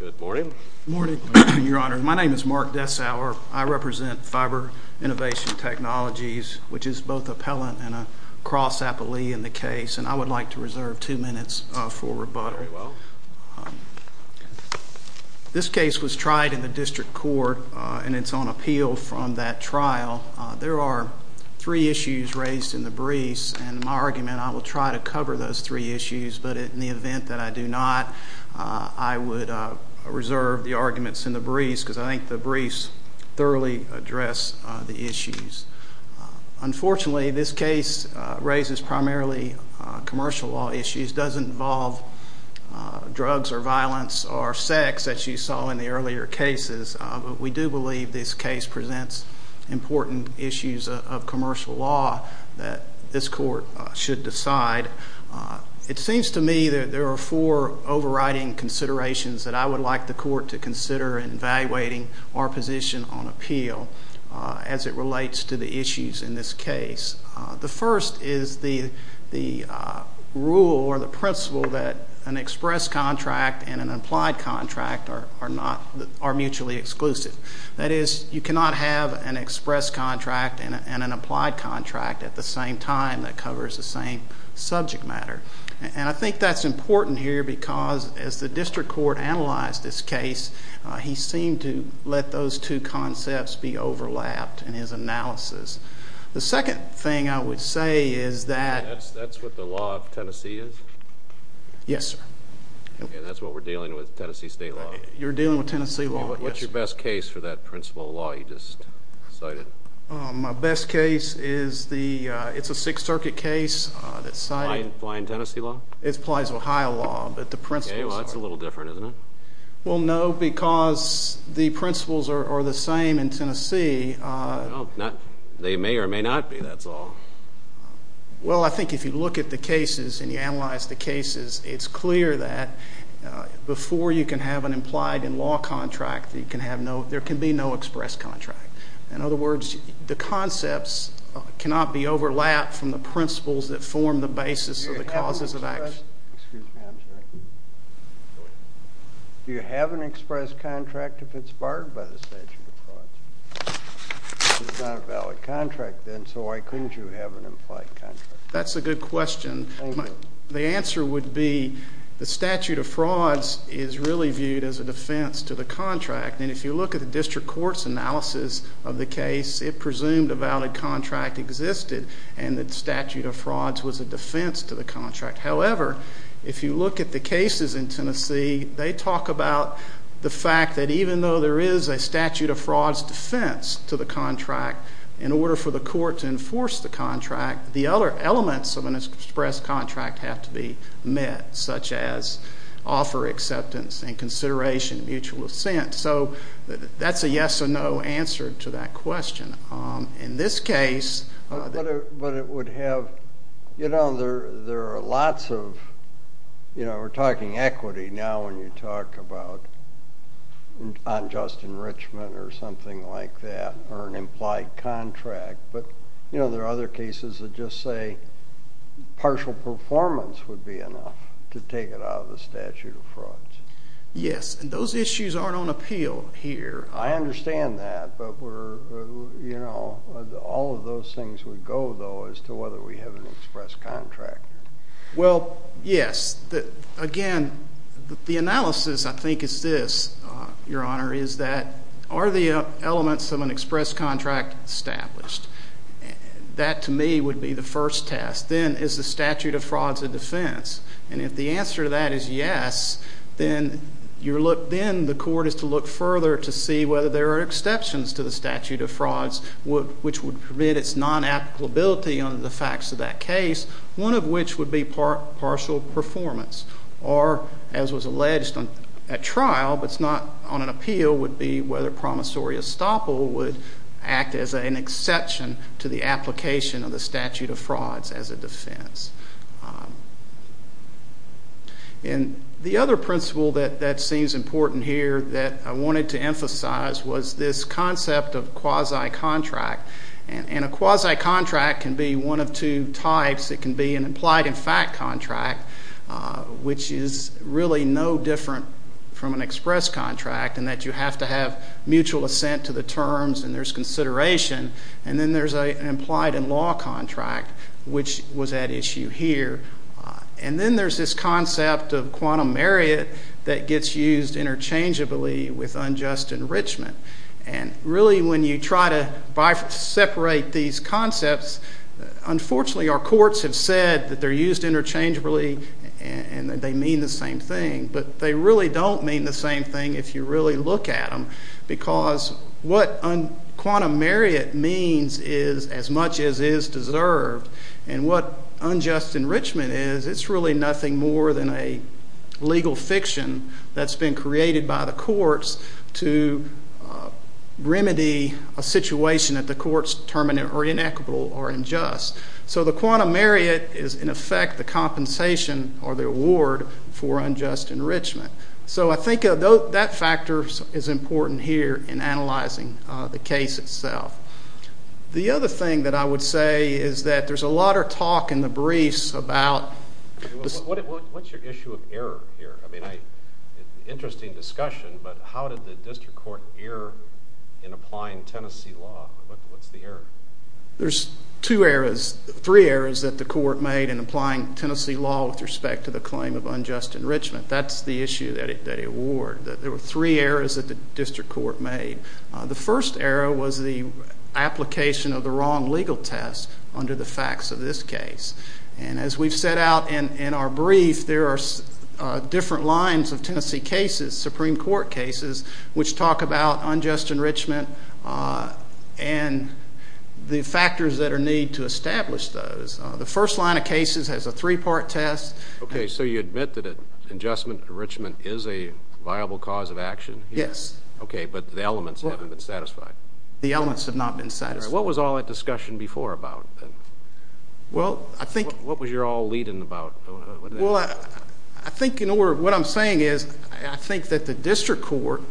Good morning, your honor. My name is Mark Dessauer. I represent Fiber Innovation Technologies, which is both appellant and a cross-appellee in the case, and I would like to reserve two minutes for rebuttal. This case was tried in the district court, and it's on appeal from that trial. There are three issues raised in the briefs, and in my argument I will try to cover those three issues, but in the event that I do not, I would reserve the arguments in the briefs, because I think the briefs thoroughly address the issues. Unfortunately, this case raises primarily commercial law issues. It doesn't involve drugs or violence or sex, as you saw in the earlier cases, but we do believe this case presents important issues of commercial law that this court should decide. It seems to me that there are four overriding considerations that I would like the court to consider in evaluating our position on appeal as it relates to the issues in this case. The first is the rule or the principle that an express contract and an applied contract are mutually exclusive. That is, you cannot have an express contract and an applied contract at the same time that covers the same subject matter, and I think that's important here because as the district court analyzed this case, he seemed to let those two concepts be overlapped in his analysis. The second thing I would say is that— That's what the law of Tennessee is? Yes, sir. And that's what we're dealing with, Tennessee state law? You're dealing with Tennessee law. What's your best case for that principle of law you just cited? My best case is the—it's a Sixth Circuit case that's cited. Applying Tennessee law? It applies Ohio law, but the principles are— Okay, well, that's a little different, isn't it? Well, no, because the principles are the same in Tennessee. They may or may not be, that's all. It's clear that before you can have an implied in law contract, there can be no express contract. In other words, the concepts cannot be overlapped from the principles that form the basis of the causes of action. Excuse me, I'm sorry. Do you have an express contract if it's barred by the statute of frauds? If it's not a valid contract then, so why couldn't you have an implied contract? That's a good question. The answer would be the statute of frauds is really viewed as a defense to the contract. And if you look at the district court's analysis of the case, it presumed a valid contract existed and that statute of frauds was a defense to the contract. However, if you look at the cases in Tennessee, they talk about the fact that even though there is a statute of frauds defense to the contract, in order for the court to enforce the contract, the other elements of an express contract have to be met, such as offer acceptance and consideration of mutual assent. So that's a yes or no answer to that question. In this case, But it would have, you know, there are lots of, you know, we're talking equity now when you talk about unjust enrichment or something like that or an implied contract. But, you know, there are other cases that just say partial performance would be enough to take it out of the statute of frauds. Yes, and those issues aren't on appeal here. I understand that, but we're, you know, all of those things would go, though, as to whether we have an express contract. Well, yes. Again, the analysis, I think, is this, Your Honor, is that are the elements of an express contract established? That, to me, would be the first test. Then is the statute of frauds a defense? And if the answer to that is yes, then the court is to look further to see whether there are exceptions to the statute of frauds, which would permit its non-applicability under the facts of that case, one of which would be partial performance. Or, as was alleged at trial, but it's not on an appeal, would be whether promissory estoppel would act as an exception to the application of the statute of frauds as a defense. And the other principle that seems important here that I wanted to emphasize was this concept of quasi-contract. And a quasi-contract can be one of two types. It can be an implied-in-fact contract, which is really no different from an express contract in that you have to have mutual assent to the terms and there's consideration, and then there's an implied-in-law contract, which was at issue here. And then there's this concept of quantum merrit that gets used interchangeably with unjust enrichment. And really when you try to separate these concepts, unfortunately our courts have said that they're used interchangeably and that they mean the same thing. But they really don't mean the same thing if you really look at them, because what quantum merrit means is as much as is deserved. And what unjust enrichment is, it's really nothing more than a legal fiction that's been created by the courts to remedy a situation that the courts determine are inequitable or unjust. So the quantum merrit is, in effect, the compensation or the award for unjust enrichment. So I think that factor is important here in analyzing the case itself. The other thing that I would say is that there's a lot of talk in the briefs about... What's your issue of error here? I mean, interesting discussion, but how did the district court err in applying Tennessee law? What's the error? There's two errors, three errors that the court made in applying Tennessee law with respect to the claim of unjust enrichment. That's the issue that they award. There were three errors that the district court made. The first error was the application of the wrong legal test under the facts of this case. And as we've set out in our brief, there are different lines of Tennessee cases, Supreme Court cases, which talk about unjust enrichment and the factors that are needed to establish those. The first line of cases has a three-part test. Okay, so you admit that an unjust enrichment is a viable cause of action? Yes. Okay, but the elements haven't been satisfied. The elements have not been satisfied. What was all that discussion before about? Well, I think... What was your all-leading about? Well, I think in order, what I'm saying is I think that the district court,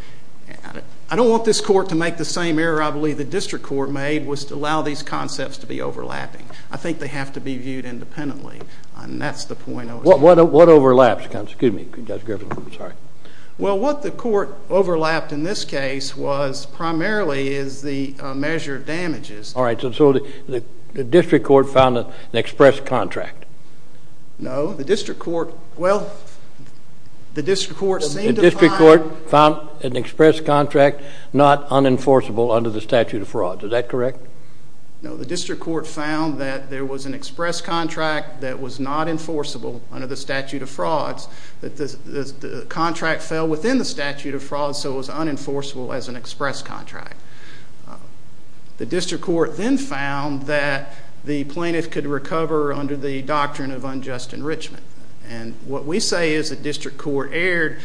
I don't want this court to make the same error I believe the district court made was to allow these concepts to be overlapping. I think they have to be viewed independently, and that's the point I was making. What overlaps? Excuse me, Judge Griffin, I'm sorry. Well, what the court overlapped in this case was primarily is the measure of damages. All right, so the district court found an express contract? No, the district court, well, the district court seemed to find... The district court found an express contract not unenforceable under the statute of frauds. Is that correct? No, the district court found that there was an express contract that was not enforceable under the statute of frauds. The contract fell within the statute of frauds, so it was unenforceable as an express contract. The district court then found that the plaintiff could recover under the doctrine of unjust enrichment, and what we say is the district court erred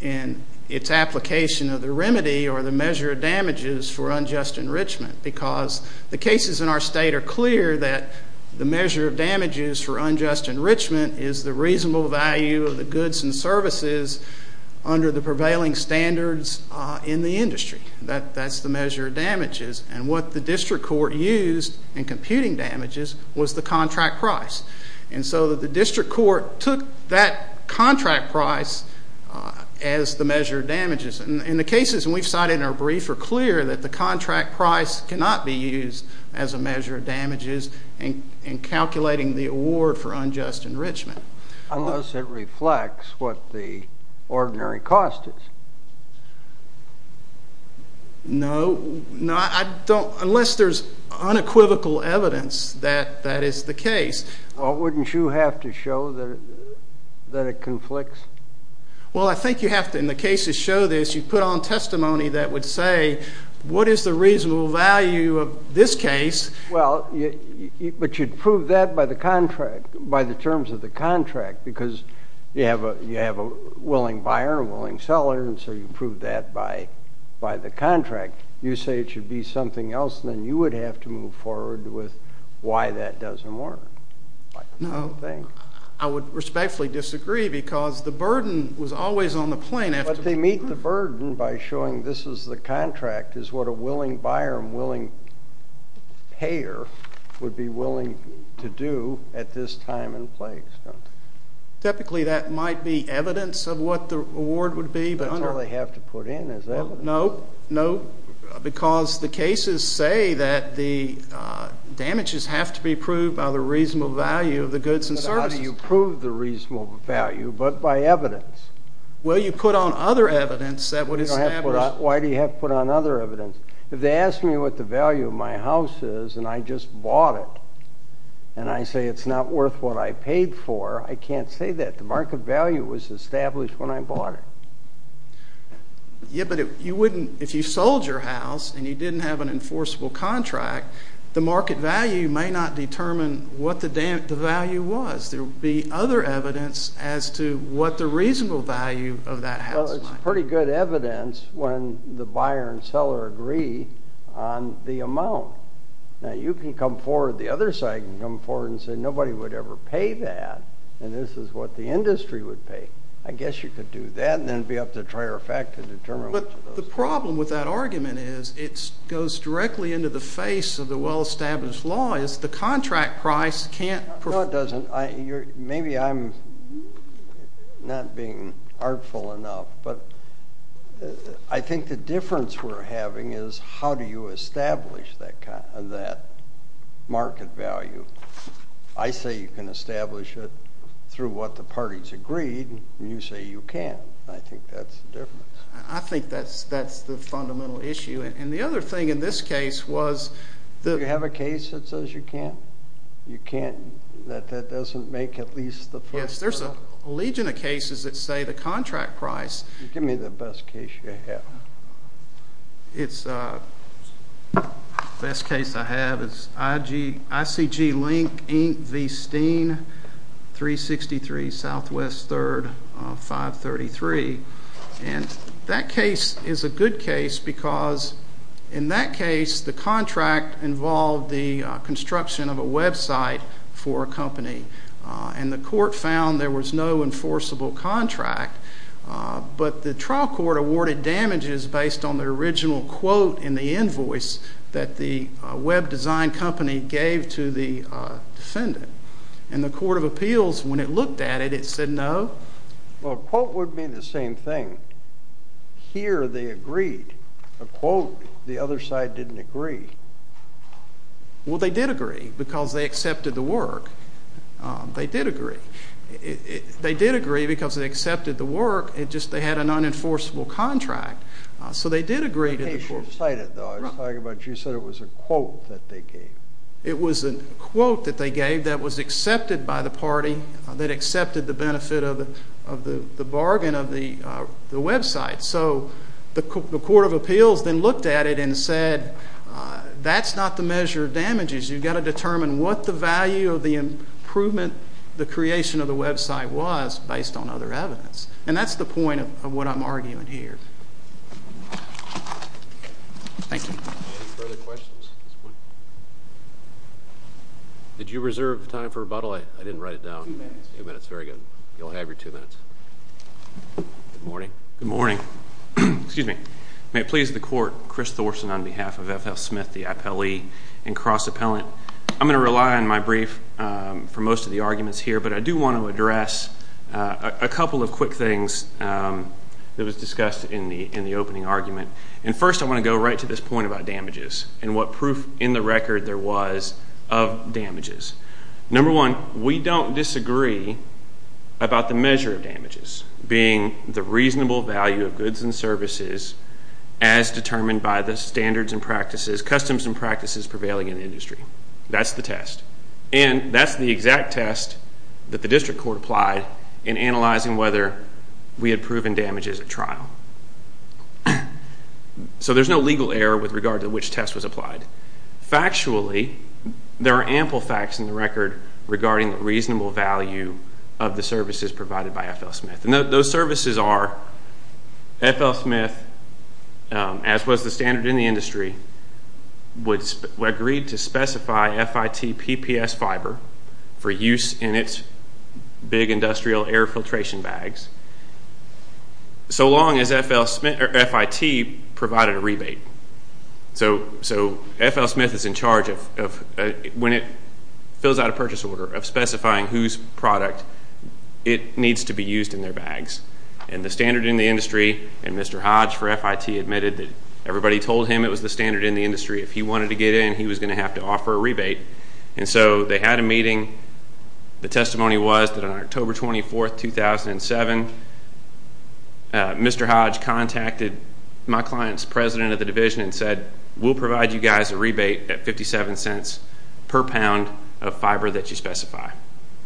in its application of the remedy or the measure of damages for unjust enrichment because the cases in our state are clear that the measure of damages for unjust enrichment is the reasonable value of the goods and services under the prevailing standards in the industry. That's the measure of damages. And what the district court used in computing damages was the contract price. And so the district court took that contract price as the measure of damages. And the cases we've cited in our brief are clear that the contract price cannot be used as a measure of damages in calculating the award for unjust enrichment. Unless it reflects what the ordinary cost is. No. No, I don't, unless there's unequivocal evidence that that is the case. Well, wouldn't you have to show that it conflicts? Well, I think you have to. In the cases show this, you put on testimony that would say what is the reasonable value of this case. Well, but you'd prove that by the contract, by the terms of the contract, because you have a willing buyer, a willing seller, and so you prove that by the contract. You say it should be something else, and then you would have to move forward with why that doesn't work. No, I would respectfully disagree because the burden was always on the plaintiff. But they meet the burden by showing this is the contract, is what a willing buyer and willing payer would be willing to do at this time and place. Typically that might be evidence of what the award would be. That's all they have to put in is evidence. No, no, because the cases say that the damages have to be proved by the reasonable value of the goods and services. But how do you prove the reasonable value, but by evidence? Well, you put on other evidence that would establish. Why do you have to put on other evidence? If they ask me what the value of my house is and I just bought it and I say it's not worth what I paid for, I can't say that. The market value was established when I bought it. Yeah, but if you sold your house and you didn't have an enforceable contract, the market value may not determine what the value was. There would be other evidence as to what the reasonable value of that house might be. Well, it's pretty good evidence when the buyer and seller agree on the amount. Now, you can come forward, the other side can come forward and say nobody would ever pay that, and this is what the industry would pay. I guess you could do that and then it would be up to trier effect to determine which of those things. But the problem with that argument is it goes directly into the face of the well-established law, No, it doesn't. Maybe I'm not being artful enough, but I think the difference we're having is how do you establish that market value? I say you can establish it through what the parties agreed, and you say you can't. I think that's the difference. I think that's the fundamental issue. And the other thing in this case was the Do you have a case that says you can't? You can't, that that doesn't make at least the first trial? Yes, there's a legion of cases that say the contract price Give me the best case you have. The best case I have is ICG Link, Inc., V. Steen, 363 Southwest 3rd, 533. And that case is a good case because in that case the contract involved the construction of a website for a company. And the court found there was no enforceable contract. But the trial court awarded damages based on the original quote in the invoice that the web design company gave to the defendant. And the court of appeals, when it looked at it, it said no. Well, a quote would mean the same thing. Here they agreed. A quote, the other side didn't agree. Well, they did agree because they accepted the work. They did agree. They did agree because they accepted the work. It's just they had an unenforceable contract. So they did agree to the court. The case you cited, though, I was talking about, you said it was a quote that they gave. It was a quote that they gave that was accepted by the party, that accepted the benefit of the bargain of the website. So the court of appeals then looked at it and said that's not the measure of damages. You've got to determine what the value of the improvement, the creation of the website was based on other evidence. And that's the point of what I'm arguing here. Thank you. Any further questions at this point? Did you reserve time for rebuttal? I didn't write it down. Two minutes. Two minutes, very good. You'll have your two minutes. Good morning. Good morning. May it please the court, Chris Thorsen on behalf of F.F. Smith, the appellee and cross-appellant. I'm going to rely on my brief for most of the arguments here, but I do want to address a couple of quick things that was discussed in the opening argument. And first I want to go right to this point about damages and what proof in the record there was of damages. Number one, we don't disagree about the measure of damages being the reasonable value of goods and services as determined by the standards and practices, customs and practices prevailing in the industry. That's the test. And that's the exact test that the district court applied in analyzing whether we had proven damages at trial. So there's no legal error with regard to which test was applied. Factually, there are ample facts in the record regarding reasonable value of the services provided by F.L. Smith. And those services are F.L. Smith, as was the standard in the industry, would agree to specify FIT PPS fiber for use in its big industrial air filtration bags so long as FIT provided a rebate. So F.L. Smith is in charge of, when it fills out a purchase order, of specifying whose product it needs to be used in their bags. And the standard in the industry, and Mr. Hodge for FIT admitted that everybody told him it was the standard in the industry. If he wanted to get in, he was going to have to offer a rebate. And so they had a meeting. The testimony was that on October 24, 2007, Mr. Hodge contacted my client's president of the division and said, we'll provide you guys a rebate at 57 cents per pound of fiber that you specify.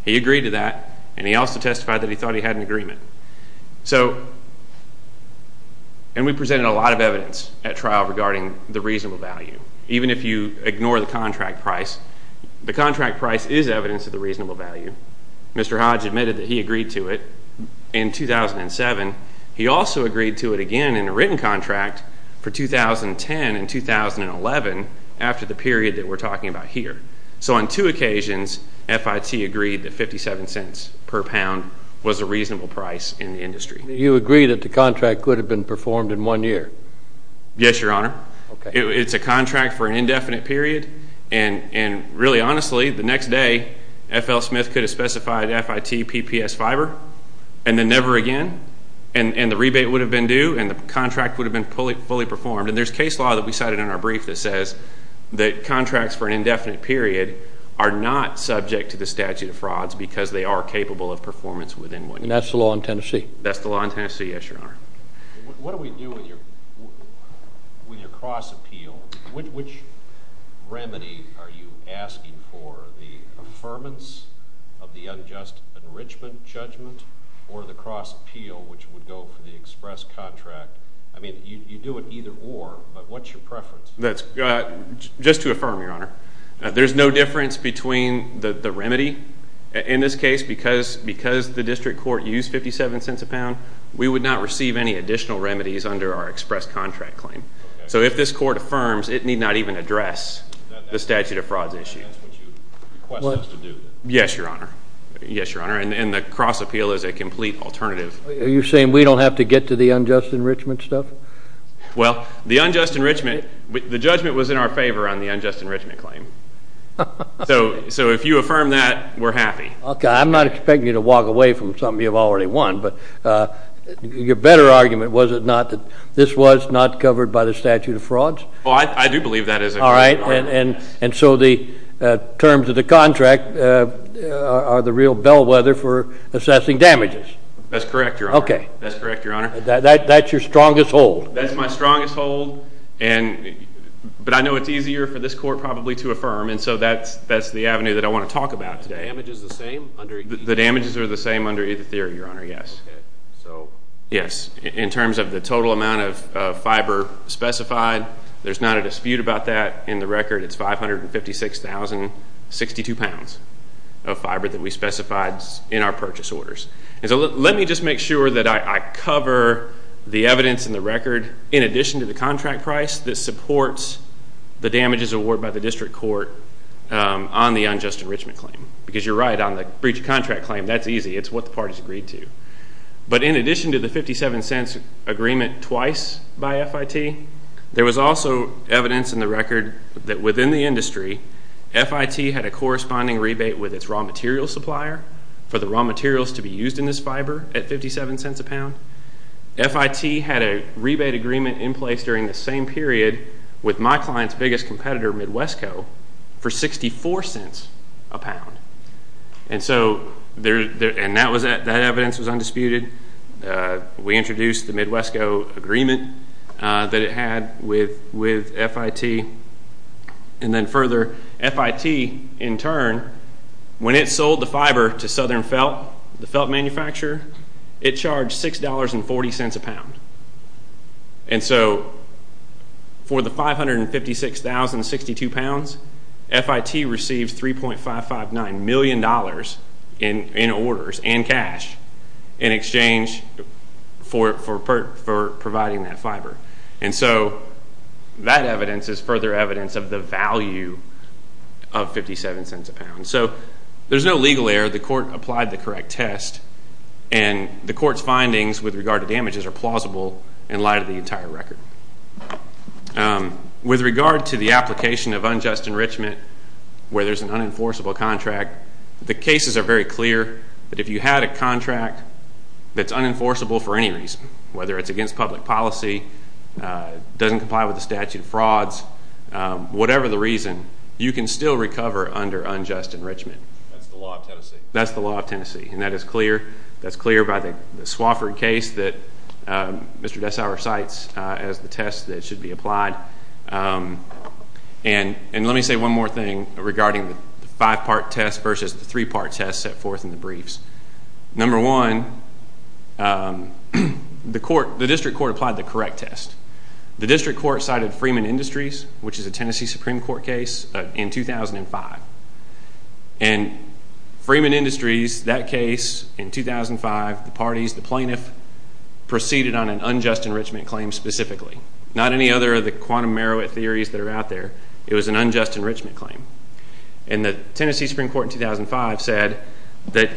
He agreed to that, and he also testified that he thought he had an agreement. So, and we presented a lot of evidence at trial regarding the reasonable value. Even if you ignore the contract price, the contract price is evidence of the reasonable value. Mr. Hodge admitted that he agreed to it in 2007. He also agreed to it again in a written contract for 2010 and 2011 after the period that we're talking about here. So on two occasions, FIT agreed that 57 cents per pound was a reasonable price in the industry. You agree that the contract could have been performed in one year? Yes, Your Honor. Okay. It's a contract for an indefinite period. And really, honestly, the next day, F.L. Smith could have specified FIT PPS fiber, and then never again. And the rebate would have been due, and the contract would have been fully performed. And there's case law that we cited in our brief that says that contracts for an indefinite period are not subject to the statute of frauds because they are capable of performance within one year. And that's the law in Tennessee? That's the law in Tennessee, yes, Your Honor. What do we do with your cross appeal? Which remedy are you asking for, the affirmance of the unjust enrichment judgment or the cross appeal which would go for the express contract? I mean, you do it either or, but what's your preference? Just to affirm, Your Honor, there's no difference between the remedy. In this case, because the district court used 57 cents a pound, we would not receive any additional remedies under our express contract claim. So if this court affirms, it need not even address the statute of frauds issue. That's what you request us to do? Yes, Your Honor. Yes, Your Honor. And the cross appeal is a complete alternative. Are you saying we don't have to get to the unjust enrichment stuff? Well, the unjust enrichment, the judgment was in our favor on the unjust enrichment claim. So if you affirm that, we're happy. Okay. I'm not expecting you to walk away from something you've already won, but your better argument was it not that this was not covered by the statute of frauds? Well, I do believe that is a good argument. All right. And so the terms of the contract are the real bellwether for assessing damages? That's correct, Your Honor. Okay. That's correct, Your Honor. That's your strongest hold? That's my strongest hold. But I know it's easier for this court probably to affirm, and so that's the avenue that I want to talk about today. The damage is the same? The damages are the same under either theory, Your Honor, yes. Okay. Yes. In terms of the total amount of fiber specified, there's not a dispute about that. In the record, it's 556,062 pounds of fiber that we specified in our purchase orders. And so let me just make sure that I cover the evidence in the record in addition to the contract price that supports the damages awarded by the district court on the unjust enrichment claim. Because you're right, on the breach of contract claim, that's easy. It's what the parties agreed to. But in addition to the 57 cents agreement twice by FIT, there was also evidence in the record that within the industry, FIT had a corresponding rebate with its raw materials supplier for the raw materials to be used in this fiber at 57 cents a pound. FIT had a rebate agreement in place during the same period with my client's biggest competitor, Midwestco, for 64 cents a pound. And so that evidence was undisputed. We introduced the Midwestco agreement that it had with FIT. And then further, FIT, in turn, when it sold the fiber to Southern Felt, the felt manufacturer, it charged $6.40 a pound. And so for the 556,062 pounds, FIT received $3.559 million in orders and cash in exchange for providing that fiber. And so that evidence is further evidence of the value of 57 cents a pound. So there's no legal error. The court applied the correct test, and the court's findings with regard to damages are plausible in light of the entire record. With regard to the application of unjust enrichment where there's an unenforceable contract, the cases are very clear that if you had a contract that's unenforceable for any reason, whether it's against public policy, doesn't comply with the statute of frauds, whatever the reason, you can still recover under unjust enrichment. That's the law of Tennessee. That's the law of Tennessee, and that is clear. That's clear by the Swofford case that Mr. Dessauer cites as the test that should be applied. And let me say one more thing regarding the five-part test versus the three-part test set forth in the briefs. Number one, the district court applied the correct test. The district court cited Freeman Industries, which is a Tennessee Supreme Court case, in 2005. And Freeman Industries, that case in 2005, the parties, the plaintiff, proceeded on an unjust enrichment claim specifically. Not any other of the quantum merit theories that are out there. It was an unjust enrichment claim. And the Tennessee Supreme Court in 2005 said that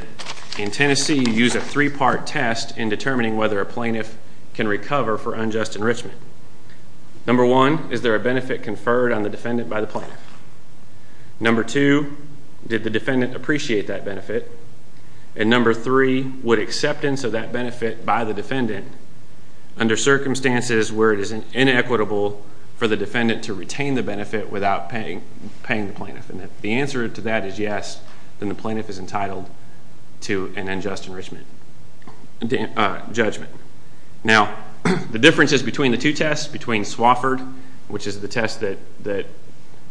in Tennessee you use a three-part test in determining whether a plaintiff can recover for unjust enrichment. Number one, is there a benefit conferred on the defendant by the plaintiff? Number two, did the defendant appreciate that benefit? And number three, would acceptance of that benefit by the defendant under circumstances where it is inequitable for the defendant to retain the benefit without paying the plaintiff? And if the answer to that is yes, then the plaintiff is entitled to an unjust enrichment judgment. Now, the differences between the two tests, between Swofford, which is the test that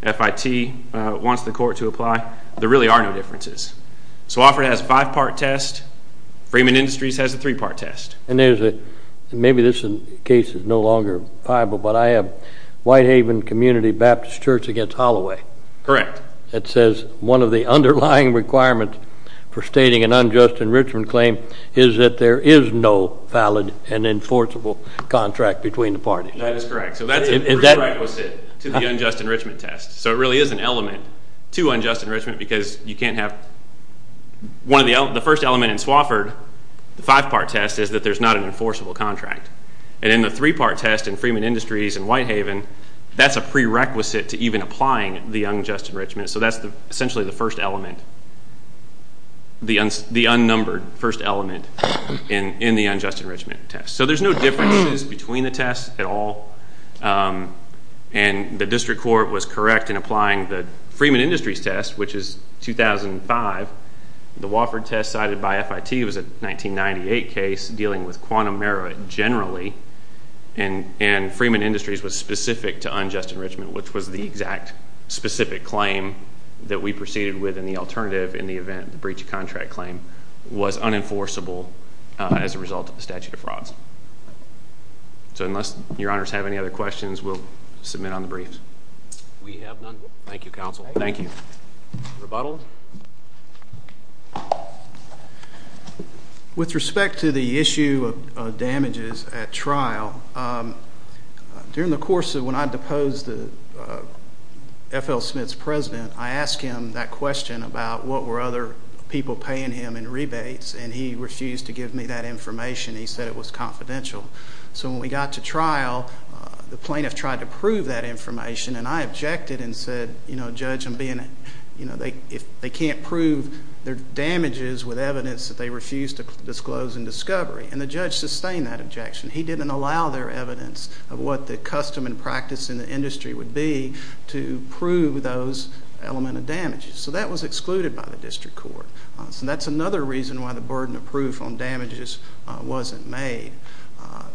FIT wants the court to apply, there really are no differences. Swofford has a five-part test. Freeman Industries has a three-part test. And maybe this case is no longer viable, but I have Whitehaven Community Baptist Church against Holloway. Correct. It says one of the underlying requirements for stating an unjust enrichment claim is that there is no valid and enforceable contract between the parties. That is correct. So that's a prerequisite to the unjust enrichment test. So it really is an element to unjust enrichment, because you can't have one of the elements. The first element in Swofford, the five-part test, is that there's not an enforceable contract. And in the three-part test in Freeman Industries and Whitehaven, that's a prerequisite to even applying the unjust enrichment. So that's essentially the first element, the unnumbered first element in the unjust enrichment test. So there's no differences between the tests at all. And the district court was correct in applying the Freeman Industries test, which is 2005. The Wofford test cited by FIT was a 1998 case dealing with quantum merit generally, and Freeman Industries was specific to unjust enrichment, which was the exact specific claim that we proceeded with in the alternative in the event the breach of contract claim was unenforceable as a result of the statute of frauds. So unless your honors have any other questions, we'll submit on the briefs. We have none. Thank you, counsel. Thank you. Rebuttal. Rebuttal. With respect to the issue of damages at trial, during the course of when I deposed the F.L. Smith's president, I asked him that question about what were other people paying him in rebates, and he refused to give me that information. He said it was confidential. So when we got to trial, the plaintiff tried to prove that information, and I objected and said, you know, judge, I'm being, you know, they can't prove their damages with evidence that they refused to disclose in discovery, and the judge sustained that objection. He didn't allow their evidence of what the custom and practice in the industry would be to prove those element of damages. So that was excluded by the district court. So that's another reason why the burden of proof on damages wasn't made.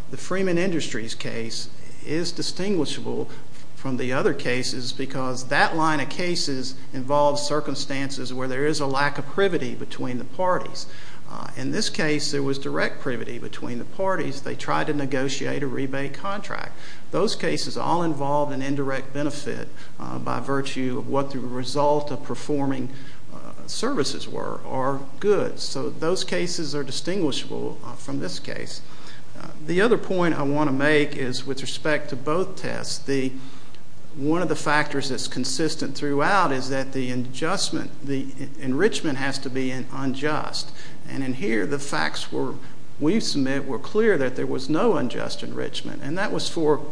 The Freeman Industries case is distinguishable from the other cases because that line of cases involves circumstances where there is a lack of privity between the parties. In this case, there was direct privity between the parties. They tried to negotiate a rebate contract. Those cases all involved an indirect benefit by virtue of what the result of performing services were or goods. So those cases are distinguishable from this case. The other point I want to make is with respect to both tests, one of the factors that's consistent throughout is that the enrichment has to be unjust. And in here, the facts we submit were clear that there was no unjust enrichment, and that was for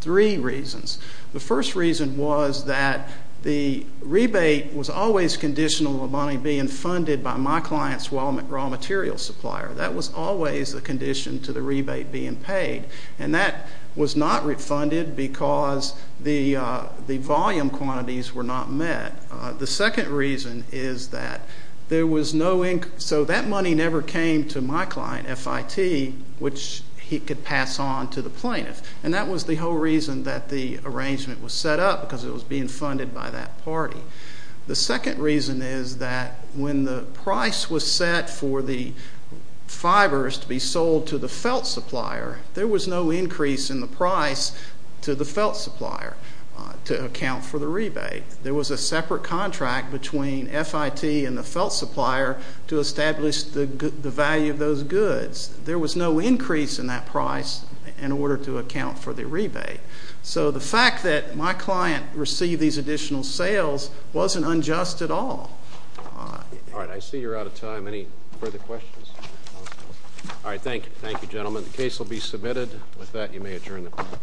three reasons. The first reason was that the rebate was always conditional on money being funded by my client's raw material supplier. That was always a condition to the rebate being paid. And that was not refunded because the volume quantities were not met. The second reason is that there was no income. So that money never came to my client, FIT, which he could pass on to the plaintiff. And that was the whole reason that the arrangement was set up, because it was being funded by that party. The second reason is that when the price was set for the fibers to be sold to the felt supplier, there was no increase in the price to the felt supplier to account for the rebate. There was a separate contract between FIT and the felt supplier to establish the value of those goods. There was no increase in that price in order to account for the rebate. So the fact that my client received these additional sales wasn't unjust at all. All right. I see you're out of time. Any further questions? All right. Thank you. Thank you, gentlemen. With that, you may adjourn the meeting.